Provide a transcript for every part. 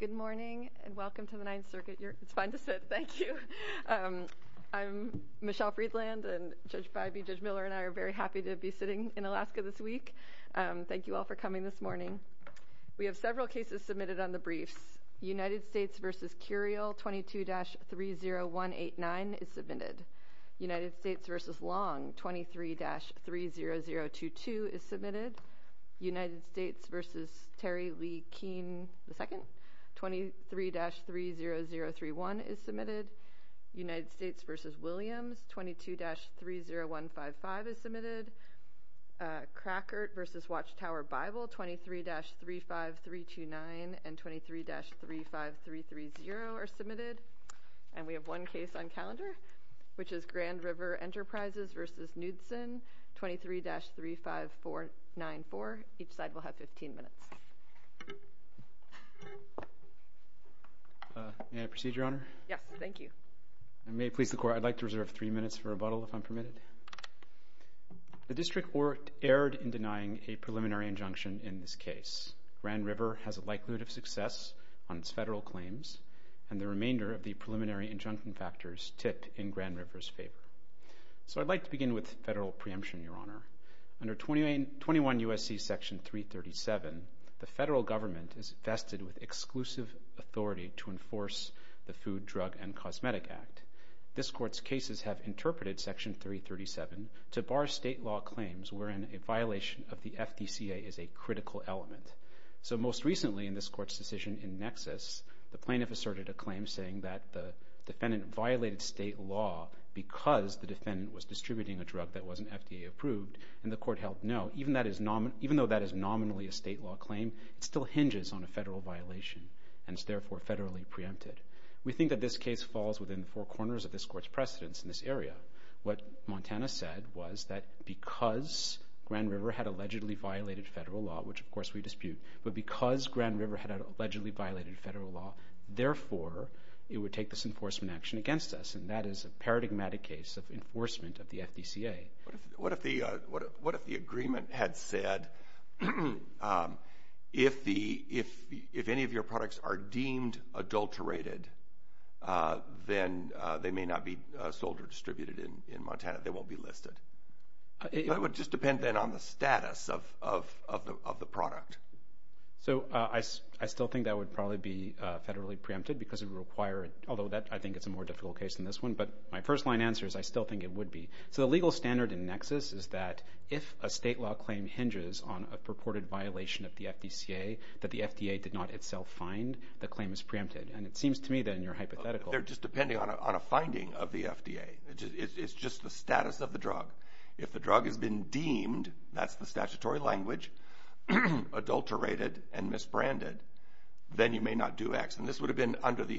Good morning and welcome to the Ninth Circuit. It's fine to sit. Thank you. I'm Michelle Freedland, and Judge Bybee, Judge Miller, and I are very happy to be sitting in Alaska this week. Thank you all for coming this morning. We have several cases submitted on the briefs. United States v. Curiel 22-30189 is submitted. United States v. Long 23-30022 is submitted. United States v. Terry Lee Keene II 23-30031 is submitted. United States v. Williams 22-30155 is submitted. Crackert v. Watchtower Bible 23-35329 and 23-35330 are submitted. And we have one case on calendar, which is Grand River Enterprises v. Knudsen 23-35494. Each side will have 15 minutes. May I proceed, Your Honor? Yes, thank you. And may it please the Court, I'd like to reserve three minutes for rebuttal, if I'm permitted. The District Court erred in denying a preliminary injunction in this case. Grand River has a likelihood of success on its federal claims, and the remainder of the preliminary injunction factors tip in Grand River's favor. So I'd like to begin with federal preemption, Your Honor. Under 21 U.S.C. Section 337, the federal government is vested with exclusive authority to enforce the Food, Drug, and Cosmetic Act. This Court's cases have interpreted Section 337 to bar state law claims wherein a violation of the FDCA is a critical element. So most recently in this Court's decision in Nexus, the plaintiff asserted a claim saying that the defendant violated state law because the defendant was distributing a drug that wasn't FDA approved, and the Court held no. Even though that is nominally a state law claim, it still hinges on a federal violation and is therefore federally preempted. We think that this case falls within four corners of this Court's precedence in this area. What Montana said was that because Grand River had allegedly violated federal law, which of course we dispute, but because Grand River had allegedly violated federal law, therefore it would take this enforcement action against us, and that is a paradigmatic case of enforcement of the FDCA. What if the agreement had said if any of your products are deemed adulterated, then they may not be sold or distributed in Montana, they won't be listed? It would just depend then on the status of the product. So I still think that would probably be federally preempted because it would require it, although I think it's a more difficult case than this one, but my first-line answer is I still think it would be. So the legal standard in Nexus is that if a state law claim hinges on a purported violation of the FDCA that the FDA did not itself find, the claim is preempted. And it seems to me then you're hypothetical. They're just depending on a finding of the FDA. It's just the status of the drug. If the drug has been deemed, that's the statutory language, adulterated and misbranded, then you may not do X. And this would have been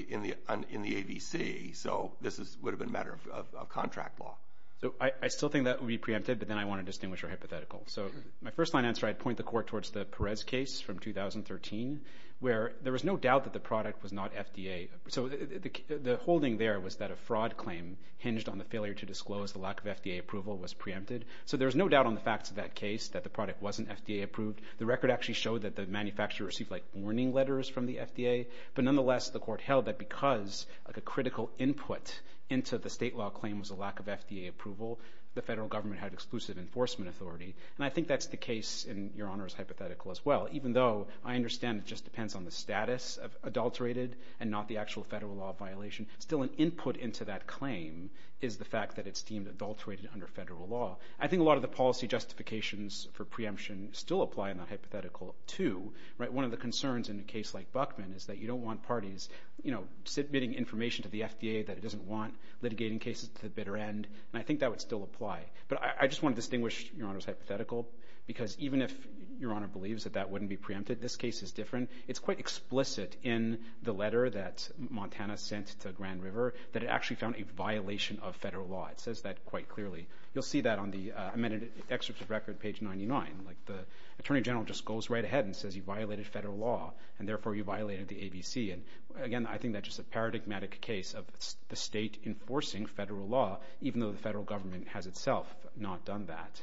in the AVC, so this would have been a matter of contract law. So I still think that would be preempted, but then I want to distinguish your hypothetical. So my first-line answer, I'd point the Court towards the Perez case from 2013, where there was no doubt that the product was not FDA. So the holding there was that a fraud claim hinged on the failure to disclose the lack of FDA approval was preempted. So there was no doubt on the facts of that case that the product wasn't FDA approved. The record actually showed that the manufacturer received warning letters from the FDA. But nonetheless, the Court held that because a critical input into the state law claim was a lack of FDA approval, the federal government had exclusive enforcement authority. And I think that's the case in Your Honor's hypothetical as well, even though I understand it just depends on the status of adulterated and not the actual federal law violation. Still an input into that claim is the fact that it's deemed adulterated under federal law. I think a lot of the policy justifications for preemption still apply in that hypothetical too. One of the concerns in a case like Buckman is that you don't want parties, you know, submitting information to the FDA that it doesn't want, litigating cases to the bitter end. And I think that would still apply. But I just want to distinguish Your Honor's hypothetical, because even if Your Honor believes that that wouldn't be preempted, this case is different. It's quite explicit in the letter that Montana sent to Grand River that it actually found a violation of federal law. It says that quite clearly. You'll see that on the amended excerpt of the record, page 99. Like the Attorney General just goes right ahead and says you violated federal law, and therefore you violated the ABC. And again, I think that's just a paradigmatic case of the state enforcing federal law, even though the federal government has itself not done that.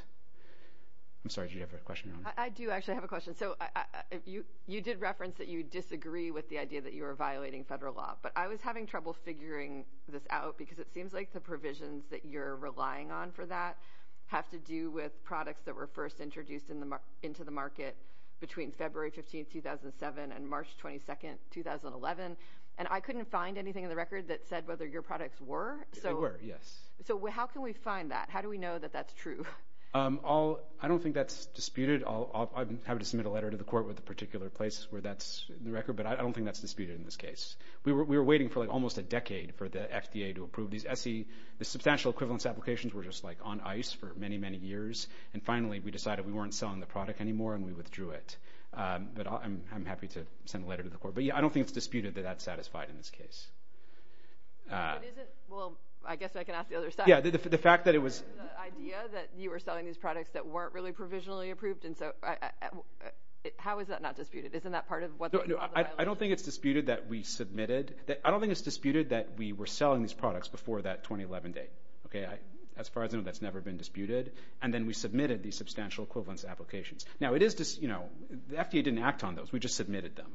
I'm sorry, did you have a question, Your Honor? I do actually have a question. So you did reference that you disagree with the idea that you were violating federal law, but I was having trouble figuring this out because it seems like the provisions that you're relying on for that have to do with products that were first introduced into the market between February 15, 2007, and March 22, 2011. And I couldn't find anything in the record that said whether your products were. They were, yes. So how can we find that? How do we know that that's true? I don't think that's disputed. I'm happy to submit a letter to the court with a particular place where that's in the record, but I don't think that's disputed in this case. We were waiting for almost a decade for the FDA to approve these. The substantial equivalence applications were just on ice for many, many years. And finally, we decided we weren't selling the product anymore, and we withdrew it. But I'm happy to send a letter to the court. But yeah, I don't think it's disputed that that's satisfied in this case. If it isn't, well, I guess I can ask the other side. Yeah, the fact that it was. The idea that you were selling these products that weren't really provisionally approved, and so how is that not disputed? Isn't that part of the violation? No, I don't think it's disputed that we submitted. I don't think it's disputed that we were selling these products before that 2011 date. As far as I know, that's never been disputed. And then we submitted these substantial equivalence applications. Now, it is, you know, the FDA didn't act on those. We just submitted them.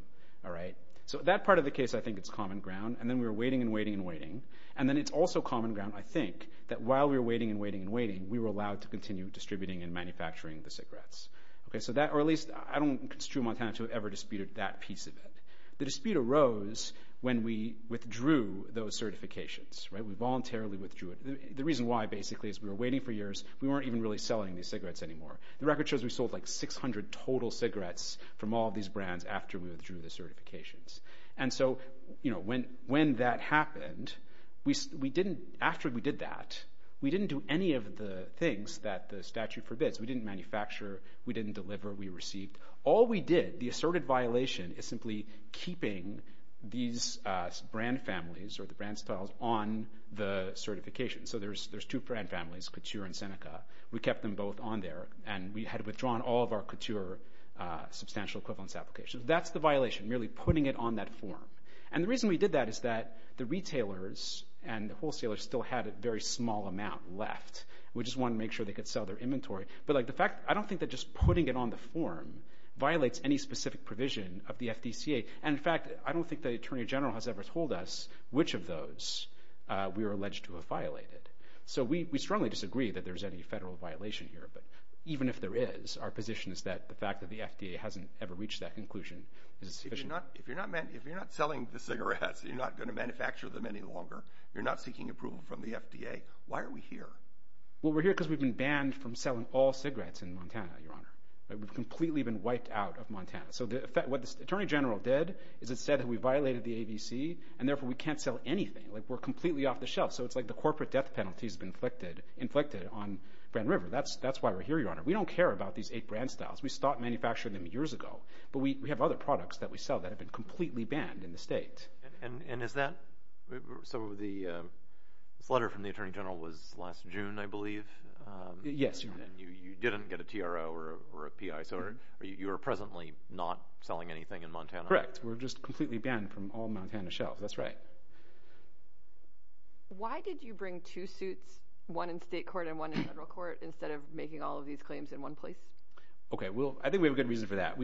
So that part of the case, I think it's common ground. And then we were waiting and waiting and waiting. And then it's also common ground, I think, that while we were waiting and waiting and waiting, we were allowed to continue distributing and manufacturing the cigarettes. Or at least I don't construe Montana to have ever disputed that piece of it. The dispute arose when we withdrew those certifications. We voluntarily withdrew it. The reason why, basically, is we were waiting for years. We weren't even really selling these cigarettes anymore. The record shows we sold, like, 600 total cigarettes from all of these brands after we withdrew the certifications. And so, you know, when that happened, we didn't, after we did that, we didn't do any of the things that the statute forbids. We didn't manufacture. We didn't deliver. We received. All we did, the asserted violation, is simply keeping these brand families or the brand styles on the certification. So there's two brand families, Couture and Seneca. We kept them both on there. And we had withdrawn all of our Couture substantial equivalence applications. So that's the violation, merely putting it on that form. And the reason we did that is that the retailers and the wholesalers still had a very small amount left. We just wanted to make sure they could sell their inventory. But, like, the fact, I don't think that just putting it on the form violates any specific provision of the FDCA. And, in fact, I don't think the Attorney General has ever told us which of those we are alleged to have violated. So we strongly disagree that there's any federal violation here. But even if there is, our position is that the fact that the FDA hasn't ever reached that conclusion is sufficient. If you're not selling the cigarettes, you're not going to manufacture them any longer, you're not seeking approval from the FDA, why are we here? Well, we're here because we've been banned from selling all cigarettes in Montana, Your Honor. We've completely been wiped out of Montana. So what the Attorney General did is it said that we violated the ABC, and therefore we can't sell anything. Like, we're completely off the shelf. So it's like the corporate death penalty has been inflicted on Grand River. That's why we're here, Your Honor. We don't care about these eight brand styles. We stopped manufacturing them years ago. But we have other products that we sell that have been completely banned in the state. And is that, so this letter from the Attorney General was last June, I believe? Yes, Your Honor. And you didn't get a TRO or a PI. So you are presently not selling anything in Montana? Correct. We're just completely banned from all Montana shelves. That's right. Why did you bring two suits, one in state court and one in federal court, instead of making all of these claims in one place? Okay, I think we have a good reason for that.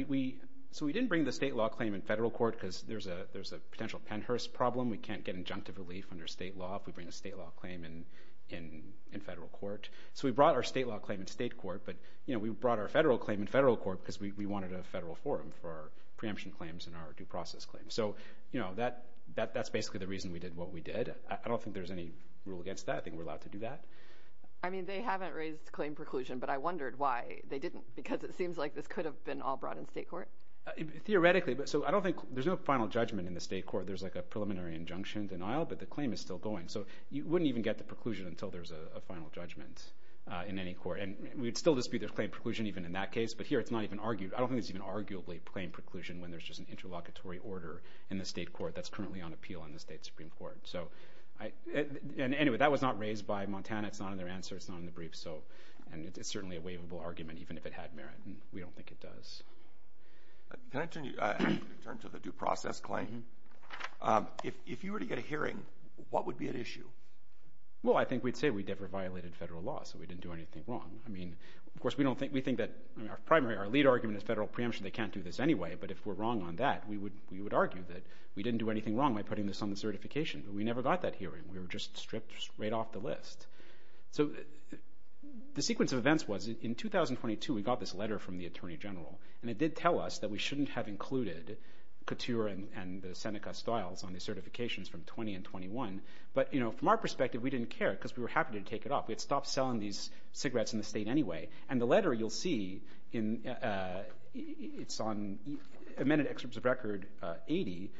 So we didn't bring the state law claim in federal court because there's a potential Pennhurst problem. We can't get injunctive relief under state law if we bring a state law claim in federal court. So we brought our state law claim in state court, but we brought our federal claim in federal court because we wanted a federal forum for our preemption claims and our due process claims. So that's basically the reason we did what we did. I don't think there's any rule against that. I think we're allowed to do that. I mean, they haven't raised claim preclusion, but I wondered why they didn't, because it seems like this could have been all brought in state court. Theoretically. So I don't think there's no final judgment in the state court. There's like a preliminary injunction denial, but the claim is still going. So you wouldn't even get the preclusion until there's a final judgment in any court. And we would still dispute there's claim preclusion even in that case, but here it's not even argued. I don't think there's even arguably claim preclusion when there's just an interlocutory order in the state court that's currently on appeal in the state Supreme Court. Anyway, that was not raised by Montana. It's not in their answer. It's not in the brief. And it's certainly a waivable argument, even if it had merit. We don't think it does. Can I turn to the due process claim? If you were to get a hearing, what would be at issue? Well, I think we'd say we never violated federal law, so we didn't do anything wrong. Of course, we think that our primary, our lead argument is federal preemption. They can't do this anyway, but if we're wrong on that, we would argue that we didn't do anything wrong by putting this on the certification. But we never got that hearing. We were just stripped right off the list. So the sequence of events was in 2022 we got this letter from the attorney general, and it did tell us that we shouldn't have included Couture and the Seneca styles on the certifications from 20 and 21. But from our perspective, we didn't care because we were happy to take it off. We had stopped selling these cigarettes in the state anyway. And the letter you'll see, it's on amended excerpts of record 80.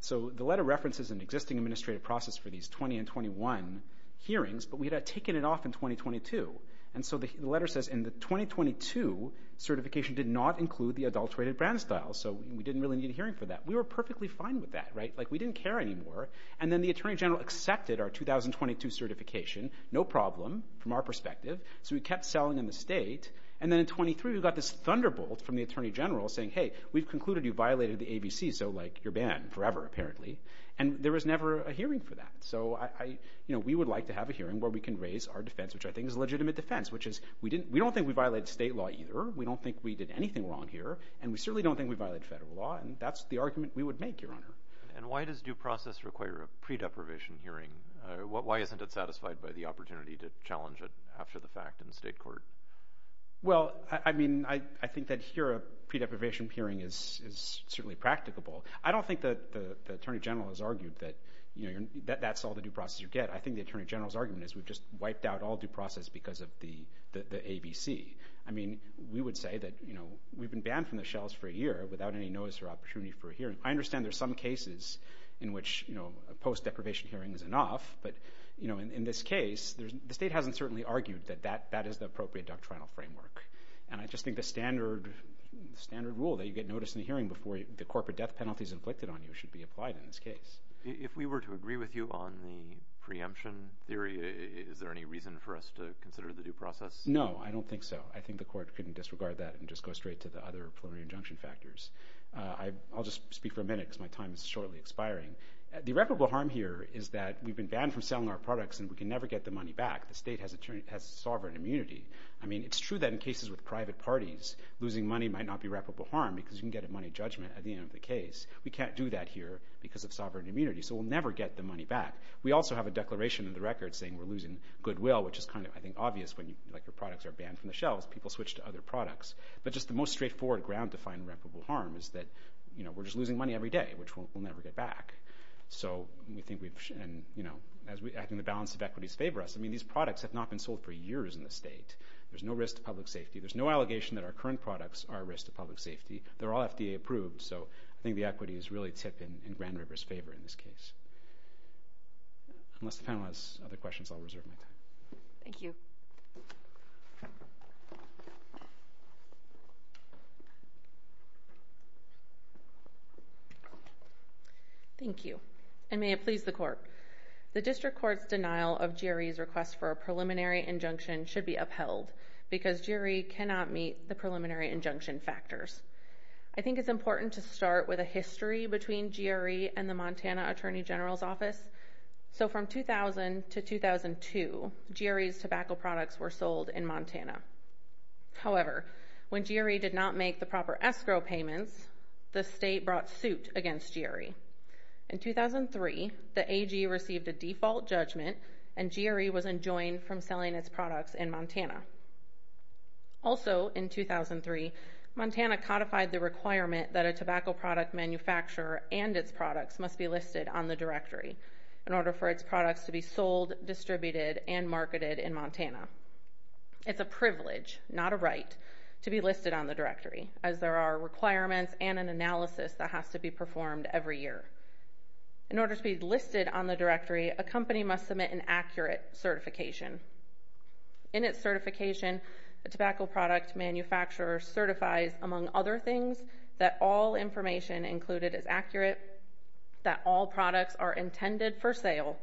So the letter references an existing administrative process for these 20 and 21 hearings, but we had taken it off in 2022. And so the letter says in the 2022 certification did not include the adulterated brand style, so we didn't really need a hearing for that. We were perfectly fine with that, right? Like we didn't care anymore. And then the attorney general accepted our 2022 certification, no problem from our perspective. So we kept selling in the state. And then in 23 we got this thunderbolt from the attorney general saying, hey, we've concluded you violated the ABC, so like you're banned forever apparently. And there was never a hearing for that. So we would like to have a hearing where we can raise our defense, which I think is a legitimate defense, which is we don't think we violated state law either. We don't think we did anything wrong here, and we certainly don't think we violated federal law. And that's the argument we would make, Your Honor. And why does due process require a pre-deprivation hearing? Why isn't it satisfied by the opportunity to challenge it after the fact in state court? Well, I mean, I think that here a pre-deprivation hearing is certainly practicable. I don't think the attorney general has argued that that's all the due process you get. I think the attorney general's argument is we've just wiped out all due process because of the ABC. I mean, we would say that we've been banned from the shelves for a year without any notice or opportunity for a hearing. I understand there are some cases in which a post-deprivation hearing is enough. But, you know, in this case, the state hasn't certainly argued that that is the appropriate doctrinal framework. And I just think the standard rule that you get notice in a hearing before the corporate death penalty is inflicted on you should be applied in this case. If we were to agree with you on the preemption theory, is there any reason for us to consider the due process? No, I don't think so. I think the court can disregard that and just go straight to the other plenary injunction factors. I'll just speak for a minute because my time is shortly expiring. The irreparable harm here is that we've been banned from selling our products and we can never get the money back. The state has a sovereign immunity. I mean, it's true that in cases with private parties, losing money might not be irreparable harm because you can get a money judgment at the end of the case. We can't do that here because of sovereign immunity, so we'll never get the money back. We also have a declaration in the record saying we're losing goodwill, which is kind of, I think, obvious when your products are banned from the shelves. People switch to other products. But just the most straightforward, ground-defined, irreparable harm is that we're just losing money every day, which we'll never get back. So I think the balance of equities favor us. I mean, these products have not been sold for years in the state. There's no risk to public safety. There's no allegation that our current products are a risk to public safety. They're all FDA approved, so I think the equities really tip in Grand River's favor in this case. Unless the panel has other questions, I'll reserve my time. Thank you. Thank you. And may it please the court. The district court's denial of GRE's request for a preliminary injunction should be upheld because GRE cannot meet the preliminary injunction factors. I think it's important to start with a history between GRE and the Montana Attorney General's Office. So from 2000 to 2002, GRE's tobacco products were sold in Montana. However, when GRE did not make the proper escrow payments, the state brought suit against GRE. In 2003, the AG received a default judgment, and GRE was enjoined from selling its products in Montana. Also in 2003, Montana codified the requirement that a tobacco product manufacturer and its products must be listed on the directory in order for its products to be sold, distributed, and marketed in Montana. It's a privilege, not a right, to be listed on the directory, as there are requirements and an analysis that has to be performed every year. In order to be listed on the directory, a company must submit an accurate certification. In its certification, the tobacco product manufacturer certifies, among other things, that all information included is accurate, that all products are intended for sale,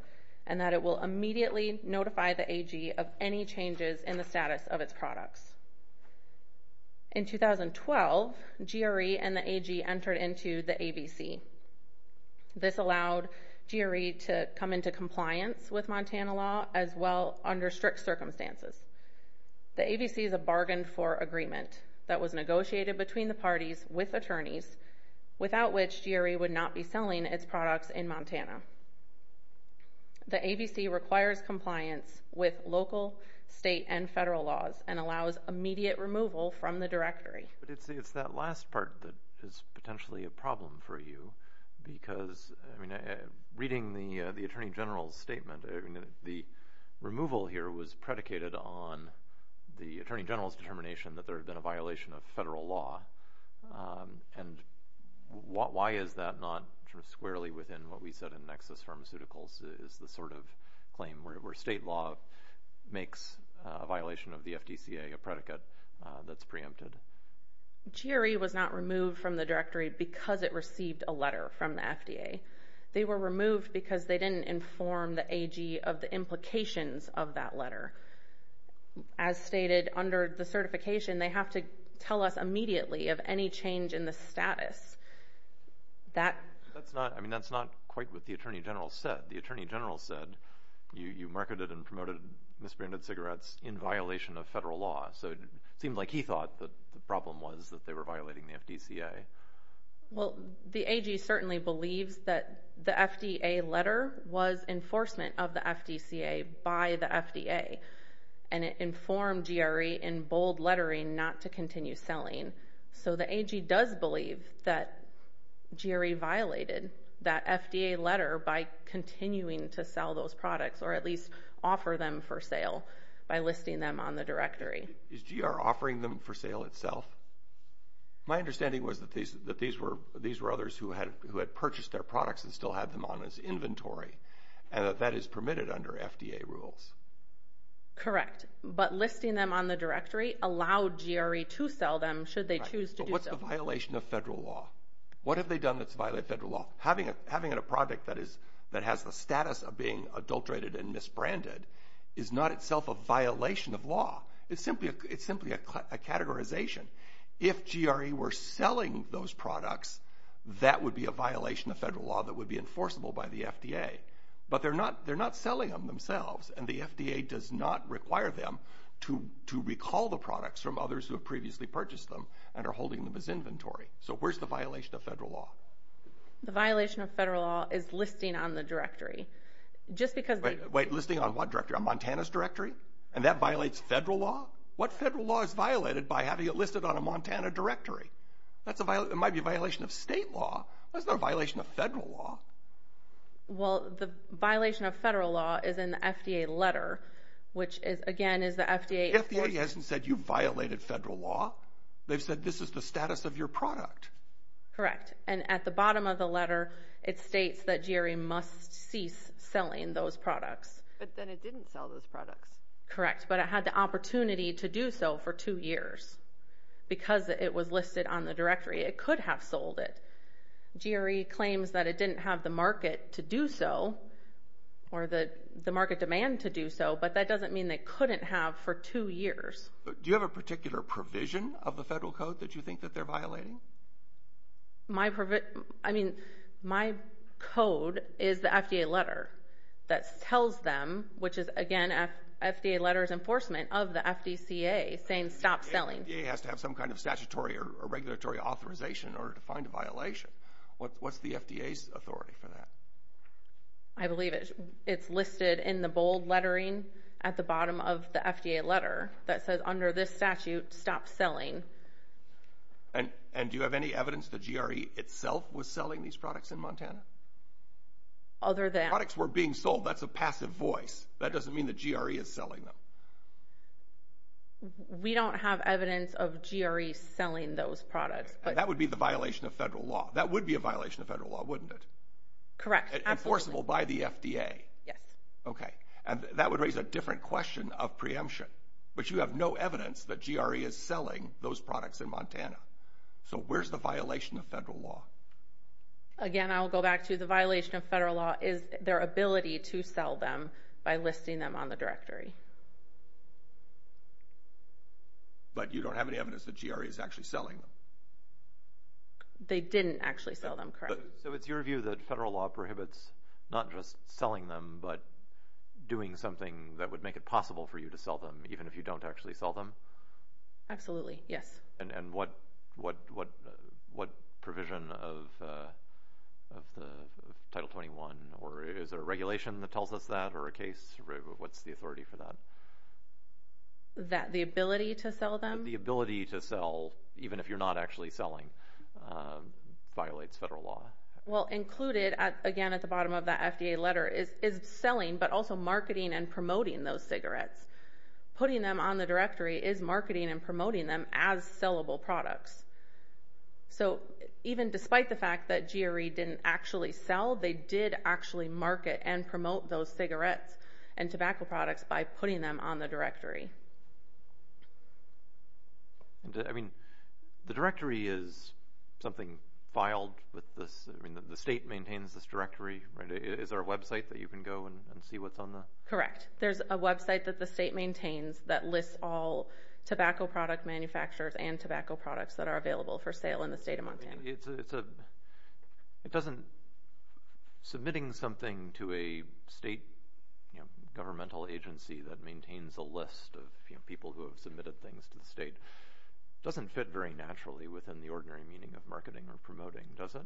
and that it will immediately notify the AG of any changes in the status of its products. In 2012, GRE and the AG entered into the ABC. This allowed GRE to come into compliance with Montana law as well under strict circumstances. The ABC is a bargain for agreement that was negotiated between the parties with attorneys, without which GRE would not be selling its products in Montana. The ABC requires compliance with local, state, and federal laws and allows immediate removal from the directory. But it's that last part that is potentially a problem for you, because, I mean, reading the Attorney General's statement, the removal here was predicated on the Attorney General's determination that there had been a violation of federal law. And why is that not sort of squarely within what we said in Nexus Pharmaceuticals is the sort of claim where state law makes a violation of the FDCA a predicate that's preempted. GRE was not removed from the directory because it received a letter from the FDA. They were removed because they didn't inform the AG of the implications of that letter. As stated under the certification, they have to tell us immediately of any change in the status. That's not, I mean, that's not quite what the Attorney General said. The Attorney General said you marketed and promoted misbranded cigarettes in violation of federal law. So it seemed like he thought the problem was that they were violating the FDCA. Well, the AG certainly believes that the FDA letter was enforcement of the FDCA by the FDA. And it informed GRE in bold lettering not to continue selling. So the AG does believe that GRE violated that FDA letter by continuing to sell those products or at least offer them for sale by listing them on the directory. Is GR offering them for sale itself? My understanding was that these were others who had purchased their products and still had them on his inventory and that that is permitted under FDA rules. Correct, but listing them on the directory allowed GRE to sell them should they choose to do so. But what's the violation of federal law? What have they done that's violated federal law? Having a product that has the status of being adulterated and misbranded is not itself a violation of law. It's simply a categorization. If GRE were selling those products, that would be a violation of federal law that would be enforceable by the FDA. But they're not selling them themselves and the FDA does not require them to recall the products from others who have previously purchased them and are holding them as inventory. So where's the violation of federal law? The violation of federal law is listing on the directory. Wait, listing on what directory? On Montana's directory? And that violates federal law? What federal law is violated by having it listed on a Montana directory? It might be a violation of state law. That's not a violation of federal law. Well, the violation of federal law is in the FDA letter, which again is the FDA... The FDA hasn't said you violated federal law. They've said this is the status of your product. Correct. And at the bottom of the letter, it states that GRE must cease selling those products. But then it didn't sell those products. Correct, but it had the opportunity to do so for two years. Because it was listed on the directory, it could have sold it. GRE claims that it didn't have the market to do so or the market demand to do so, but that doesn't mean they couldn't have for two years. Do you have a particular provision of the federal code that you think that they're violating? My code is the FDA letter that tells them, which is again FDA letter's enforcement of the FDCA, saying stop selling. The FDA has to have some kind of statutory or regulatory authorization in order to find a violation. What's the FDA's authority for that? I believe it's listed in the bold lettering at the bottom of the FDA letter that says under this statute, stop selling. And do you have any evidence that GRE itself was selling these products in Montana? Other than... Products were being sold. That's a passive voice. That doesn't mean that GRE is selling them. We don't have evidence of GRE selling those products. That would be the violation of federal law. That would be a violation of federal law, wouldn't it? Correct. Absolutely. Enforceable by the FDA. Yes. Okay. And that would raise a different question of preemption. But you have no evidence that GRE is selling those products in Montana. So where's the violation of federal law? Again, I'll go back to the violation of federal law is their ability to sell them by listing them on the directory. But you don't have any evidence that GRE is actually selling them. They didn't actually sell them. Correct. So it's your view that federal law prohibits not just selling them but doing something that would make it possible for you to sell them, even if you don't actually sell them? Absolutely. Yes. And what provision of Title 21? Is there a regulation that tells us that or a case? What's the authority for that? The ability to sell them? The ability to sell, even if you're not actually selling, violates federal law. Well, included, again, at the bottom of that FDA letter, is selling but also marketing and promoting those cigarettes. Putting them on the directory is marketing and promoting them as sellable products. So even despite the fact that GRE didn't actually sell, they did actually market and promote those cigarettes and tobacco products by putting them on the directory. I mean, the directory is something filed with this? I mean, the state maintains this directory, right? Is there a website that you can go and see what's on there? Correct. There's a website that the state maintains that lists all tobacco product manufacturers and tobacco products that are available for sale in the state of Montana. Submitting something to a state governmental agency that maintains a list of people who have submitted things to the state doesn't fit very naturally within the ordinary meaning of marketing or promoting, does it?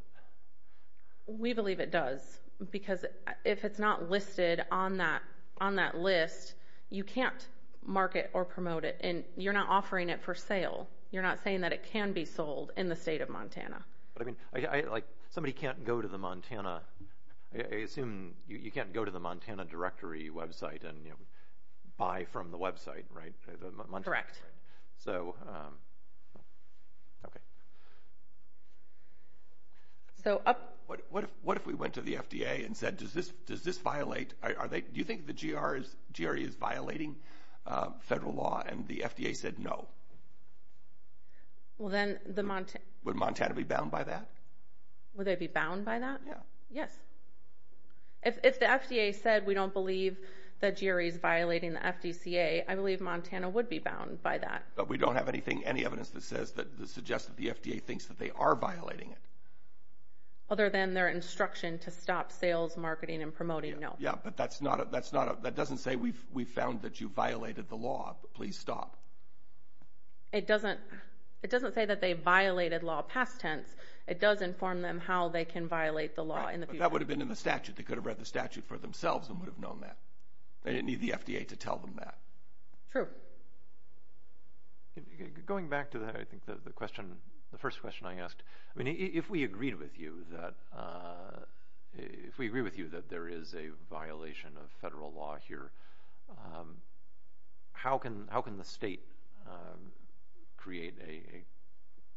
We believe it does because if it's not listed on that list, you can't market or promote it, and you're not offering it for sale. You're not saying that it can be sold in the state of Montana. Somebody can't go to the Montana – I assume you can't go to the Montana directory website and buy from the website, right? Correct. Okay. What if we went to the FDA and said, does this violate – do you think the GRE is violating federal law, and the FDA said no? Well, then the – Would Montana be bound by that? Would they be bound by that? Yes. If the FDA said we don't believe that GRE is violating the FDCA, I believe Montana would be bound by that. But we don't have anything, any evidence that suggests that the FDA thinks that they are violating it. Other than their instruction to stop sales, marketing, and promoting, no. Yeah, but that's not – that doesn't say we've found that you violated the law. Please stop. It doesn't say that they violated law past tense. It does inform them how they can violate the law in the future. Right, but that would have been in the statute. They could have read the statute for themselves and would have known that. They didn't need the FDA to tell them that. True. Going back to that, I think the question – the first question I asked, I mean, if we agreed with you that – if we agree with you that there is a violation of federal law here, how can the state create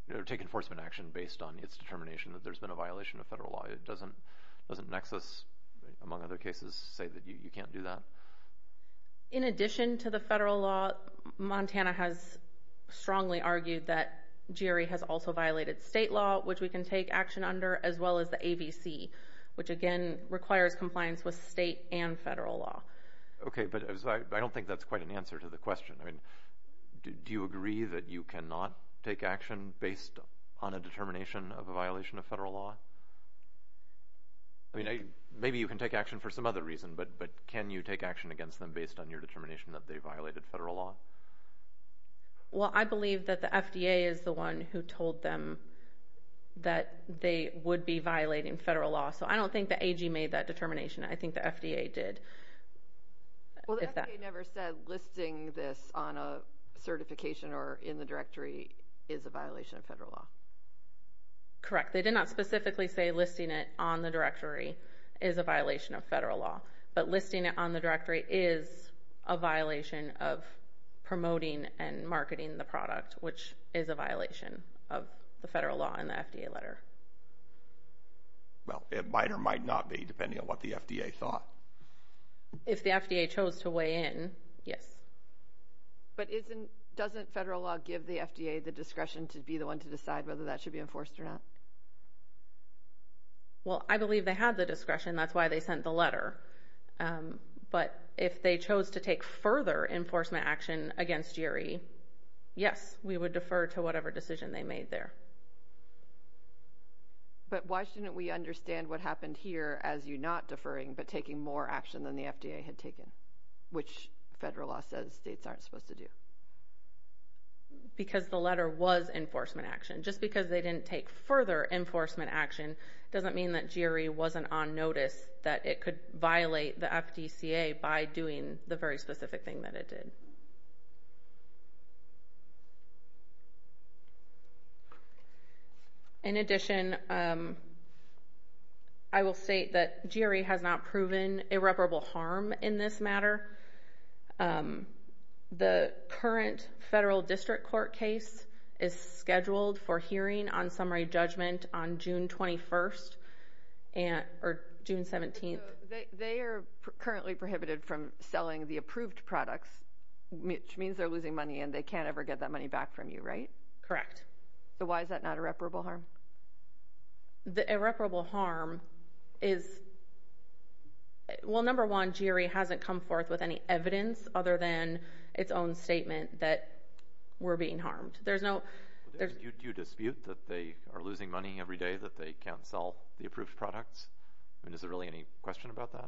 a – take enforcement action based on its determination that there's been a violation of federal law? Doesn't Nexus, among other cases, say that you can't do that? In addition to the federal law, Montana has strongly argued that GRE has also violated state law, which we can take action under, as well as the ABC, which again requires compliance with state and federal law. Okay, but I don't think that's quite an answer to the question. I mean, do you agree that you cannot take action based on a determination of a violation of federal law? I mean, maybe you can take action for some other reason, but can you take action against them based on your determination that they violated federal law? Well, I believe that the FDA is the one who told them that they would be violating federal law, so I don't think the AG made that determination. I think the FDA did. Well, the FDA never said listing this on a certification or in the directory is a violation of federal law. Correct. They did not specifically say listing it on the directory is a violation of federal law, but listing it on the directory is a violation of promoting and marketing the product, which is a violation of the federal law in the FDA letter. Well, it might or might not be, depending on what the FDA thought. If the FDA chose to weigh in, yes. But doesn't federal law give the FDA the discretion to be the one to decide whether that should be enforced or not? Well, I believe they had the discretion. That's why they sent the letter. But if they chose to take further enforcement action against GRE, yes, we would defer to whatever decision they made there. But why shouldn't we understand what happened here as you not deferring but taking more action than the FDA had taken, which federal law says states aren't supposed to do? Because the letter was enforcement action. Just because they didn't take further enforcement action doesn't mean that GRE wasn't on notice that it could violate the FDCA by doing the very specific thing that it did. In addition, I will state that GRE has not proven irreparable harm in this matter. The current federal district court case is scheduled for hearing on summary judgment on June 21st or June 17th. They are currently prohibited from selling the approved products, which means they're losing money and they can't ever get that money back from you, right? Correct. So why is that not irreparable harm? The irreparable harm is, well, number one, GRE hasn't come forth with any evidence other than its own statement that we're being harmed. Do you dispute that they are losing money every day, that they can't sell the approved products? Is there really any question about that?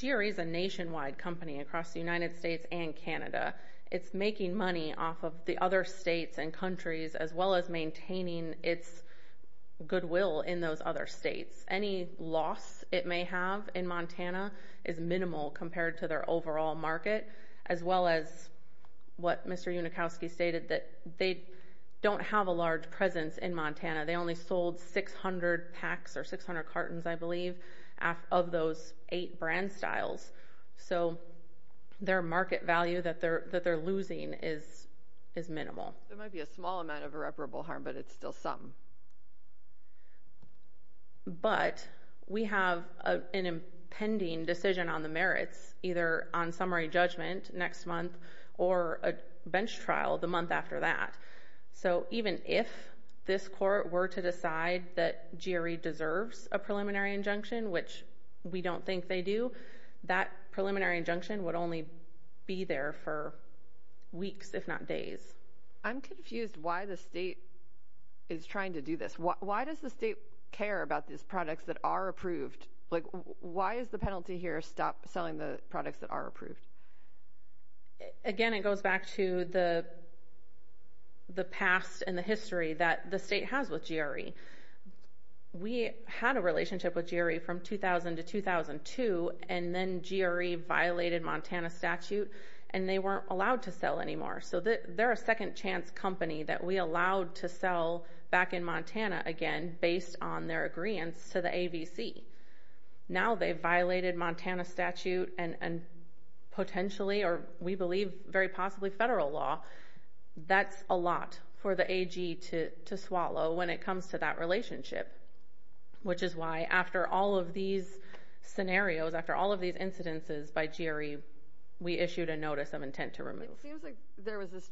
GRE is a nationwide company across the United States and Canada. It's making money off of the other states and countries as well as maintaining its goodwill in those other states. Any loss it may have in Montana is minimal compared to their overall market, as well as what Mr. Unikowski stated, that they don't have a large presence in Montana. They only sold 600 packs or 600 cartons, I believe, of those eight brand styles. So their market value that they're losing is minimal. There might be a small amount of irreparable harm, but it's still some. But we have an impending decision on the merits, either on summary judgment next month or a bench trial the month after that. So even if this court were to decide that GRE deserves a preliminary injunction, which we don't think they do, that preliminary injunction would only be there for weeks, if not days. I'm confused why the state is trying to do this. Why does the state care about these products that are approved? Like, why is the penalty here stop selling the products that are approved? Again, it goes back to the past and the history that the state has with GRE. We had a relationship with GRE from 2000 to 2002, and then GRE violated Montana statute, and they weren't allowed to sell anymore. So they're a second-chance company that we allowed to sell back in Montana again based on their agreeance to the AVC. Now they've violated Montana statute and potentially, or we believe, very possibly federal law. That's a lot for the AG to swallow when it comes to that relationship, which is why after all of these scenarios, after all of these incidences by GRE, we issued a notice of intent to remove. It seems like there was this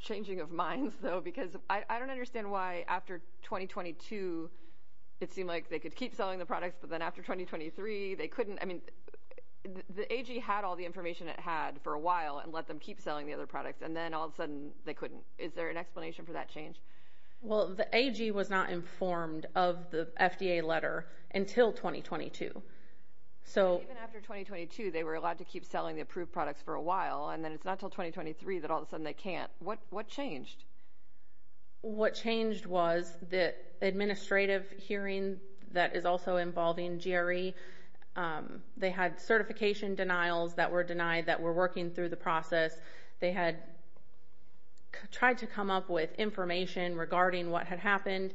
changing of minds, though, because I don't understand why after 2022, it seemed like they could keep selling the products, but then after 2023, they couldn't. I mean, the AG had all the information it had for a while and let them keep selling the other products, and then all of a sudden, they couldn't. Is there an explanation for that change? Well, the AG was not informed of the FDA letter until 2022. Even after 2022, they were allowed to keep selling the approved products for a while, and then it's not until 2023 that all of a sudden they can't. What changed? What changed was the administrative hearing that is also involving GRE. They had certification denials that were denied that were working through the process. They had tried to come up with information regarding what had happened.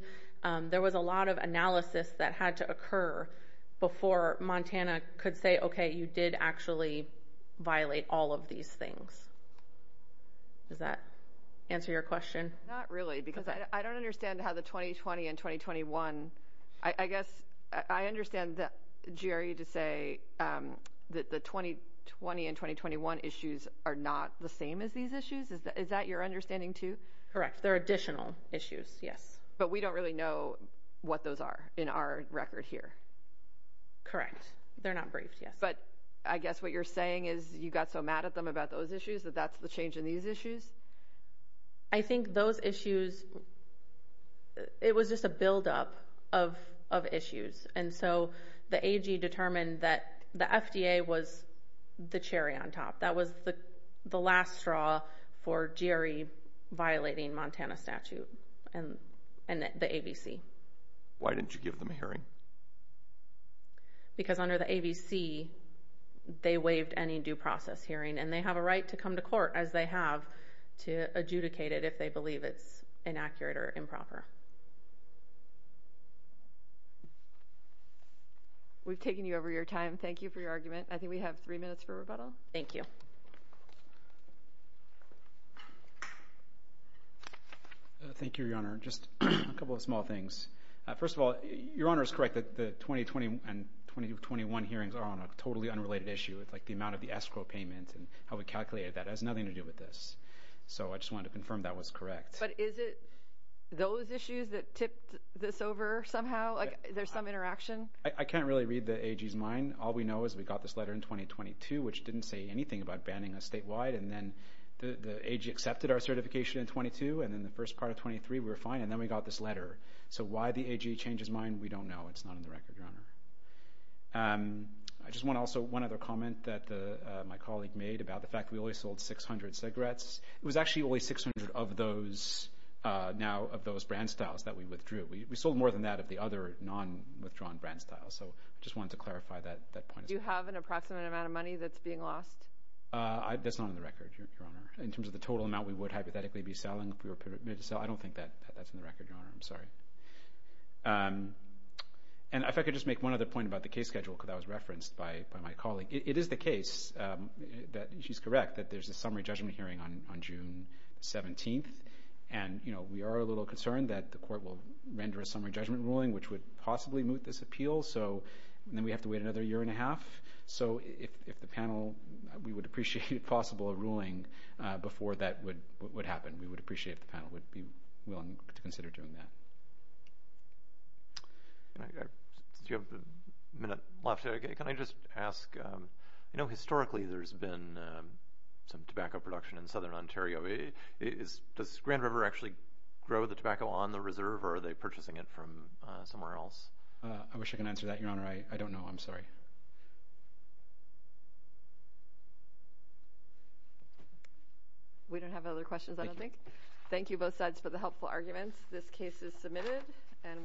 There was a lot of analysis that had to occur before Montana could say, okay, you did actually violate all of these things. Does that answer your question? Not really, because I don't understand how the 2020 and 2021... I guess I understand, Jerry, to say that the 2020 and 2021 issues are not the same as these issues. Is that your understanding, too? Correct. They're additional issues, yes. But we don't really know what those are in our record here. Correct. They're not briefed, yes. But I guess what you're saying is you got so mad at them about those issues that that's the change in these issues? I think those issues... It was just a buildup of issues. And so the AG determined that the FDA was the cherry on top. That was the last straw for GRE violating Montana statute and the ABC. Why didn't you give them a hearing? Because under the ABC, they waived any due process hearing, and they have a right to come to court, as they have to adjudicate it if they believe it's inaccurate or improper. We've taken you over your time. Thank you for your argument. I think we have three minutes for rebuttal. Thank you. Thank you, Your Honor. Just a couple of small things. First of all, Your Honor is correct that the 2020 and 2021 hearings are on a totally unrelated issue. It's like the amount of the escrow payment and how we calculated that has nothing to do with this. So I just wanted to confirm that was correct. But is it those issues that tipped this over somehow? Like there's some interaction? I can't really read the AG's mind. All we know is we got this letter in 2022, which didn't say anything about banning us statewide. And then the AG accepted our certification in 22, and in the first part of 23, we were fine. And then we got this letter. So why the AG changed his mind, we don't know. It's not on the record, Your Honor. I just want also one other comment that my colleague made about the fact we only sold 600 cigarettes. It was actually only 600 of those now, of those brand styles that we withdrew. We sold more than that of the other non-withdrawn brand styles. So I just wanted to clarify that point. Do you have an approximate amount of money that's being lost? That's not on the record, Your Honor. In terms of the total amount we would hypothetically be selling? I don't think that's on the record, Your Honor. I'm sorry. And if I could just make one other point about the case schedule, because that was referenced by my colleague. It is the case that she's correct that there's a summary judgment hearing on June 17th. And we are a little concerned that the court will render a summary judgment ruling which would possibly moot this appeal. So then we have to wait another year and a half. So if the panel... We would appreciate, if possible, a ruling before that would happen. We would appreciate if the panel would be willing to consider doing that. You have a minute left. Can I just ask... I know historically there's been some tobacco production in southern Ontario. Does Grand River actually grow the tobacco on the reserve or are they purchasing it from somewhere else? I wish I could answer that, Your Honor. I don't know. I'm sorry. We don't have other questions, I don't think. Thank you both sides for the helpful arguments. This case is submitted and we're adjourned.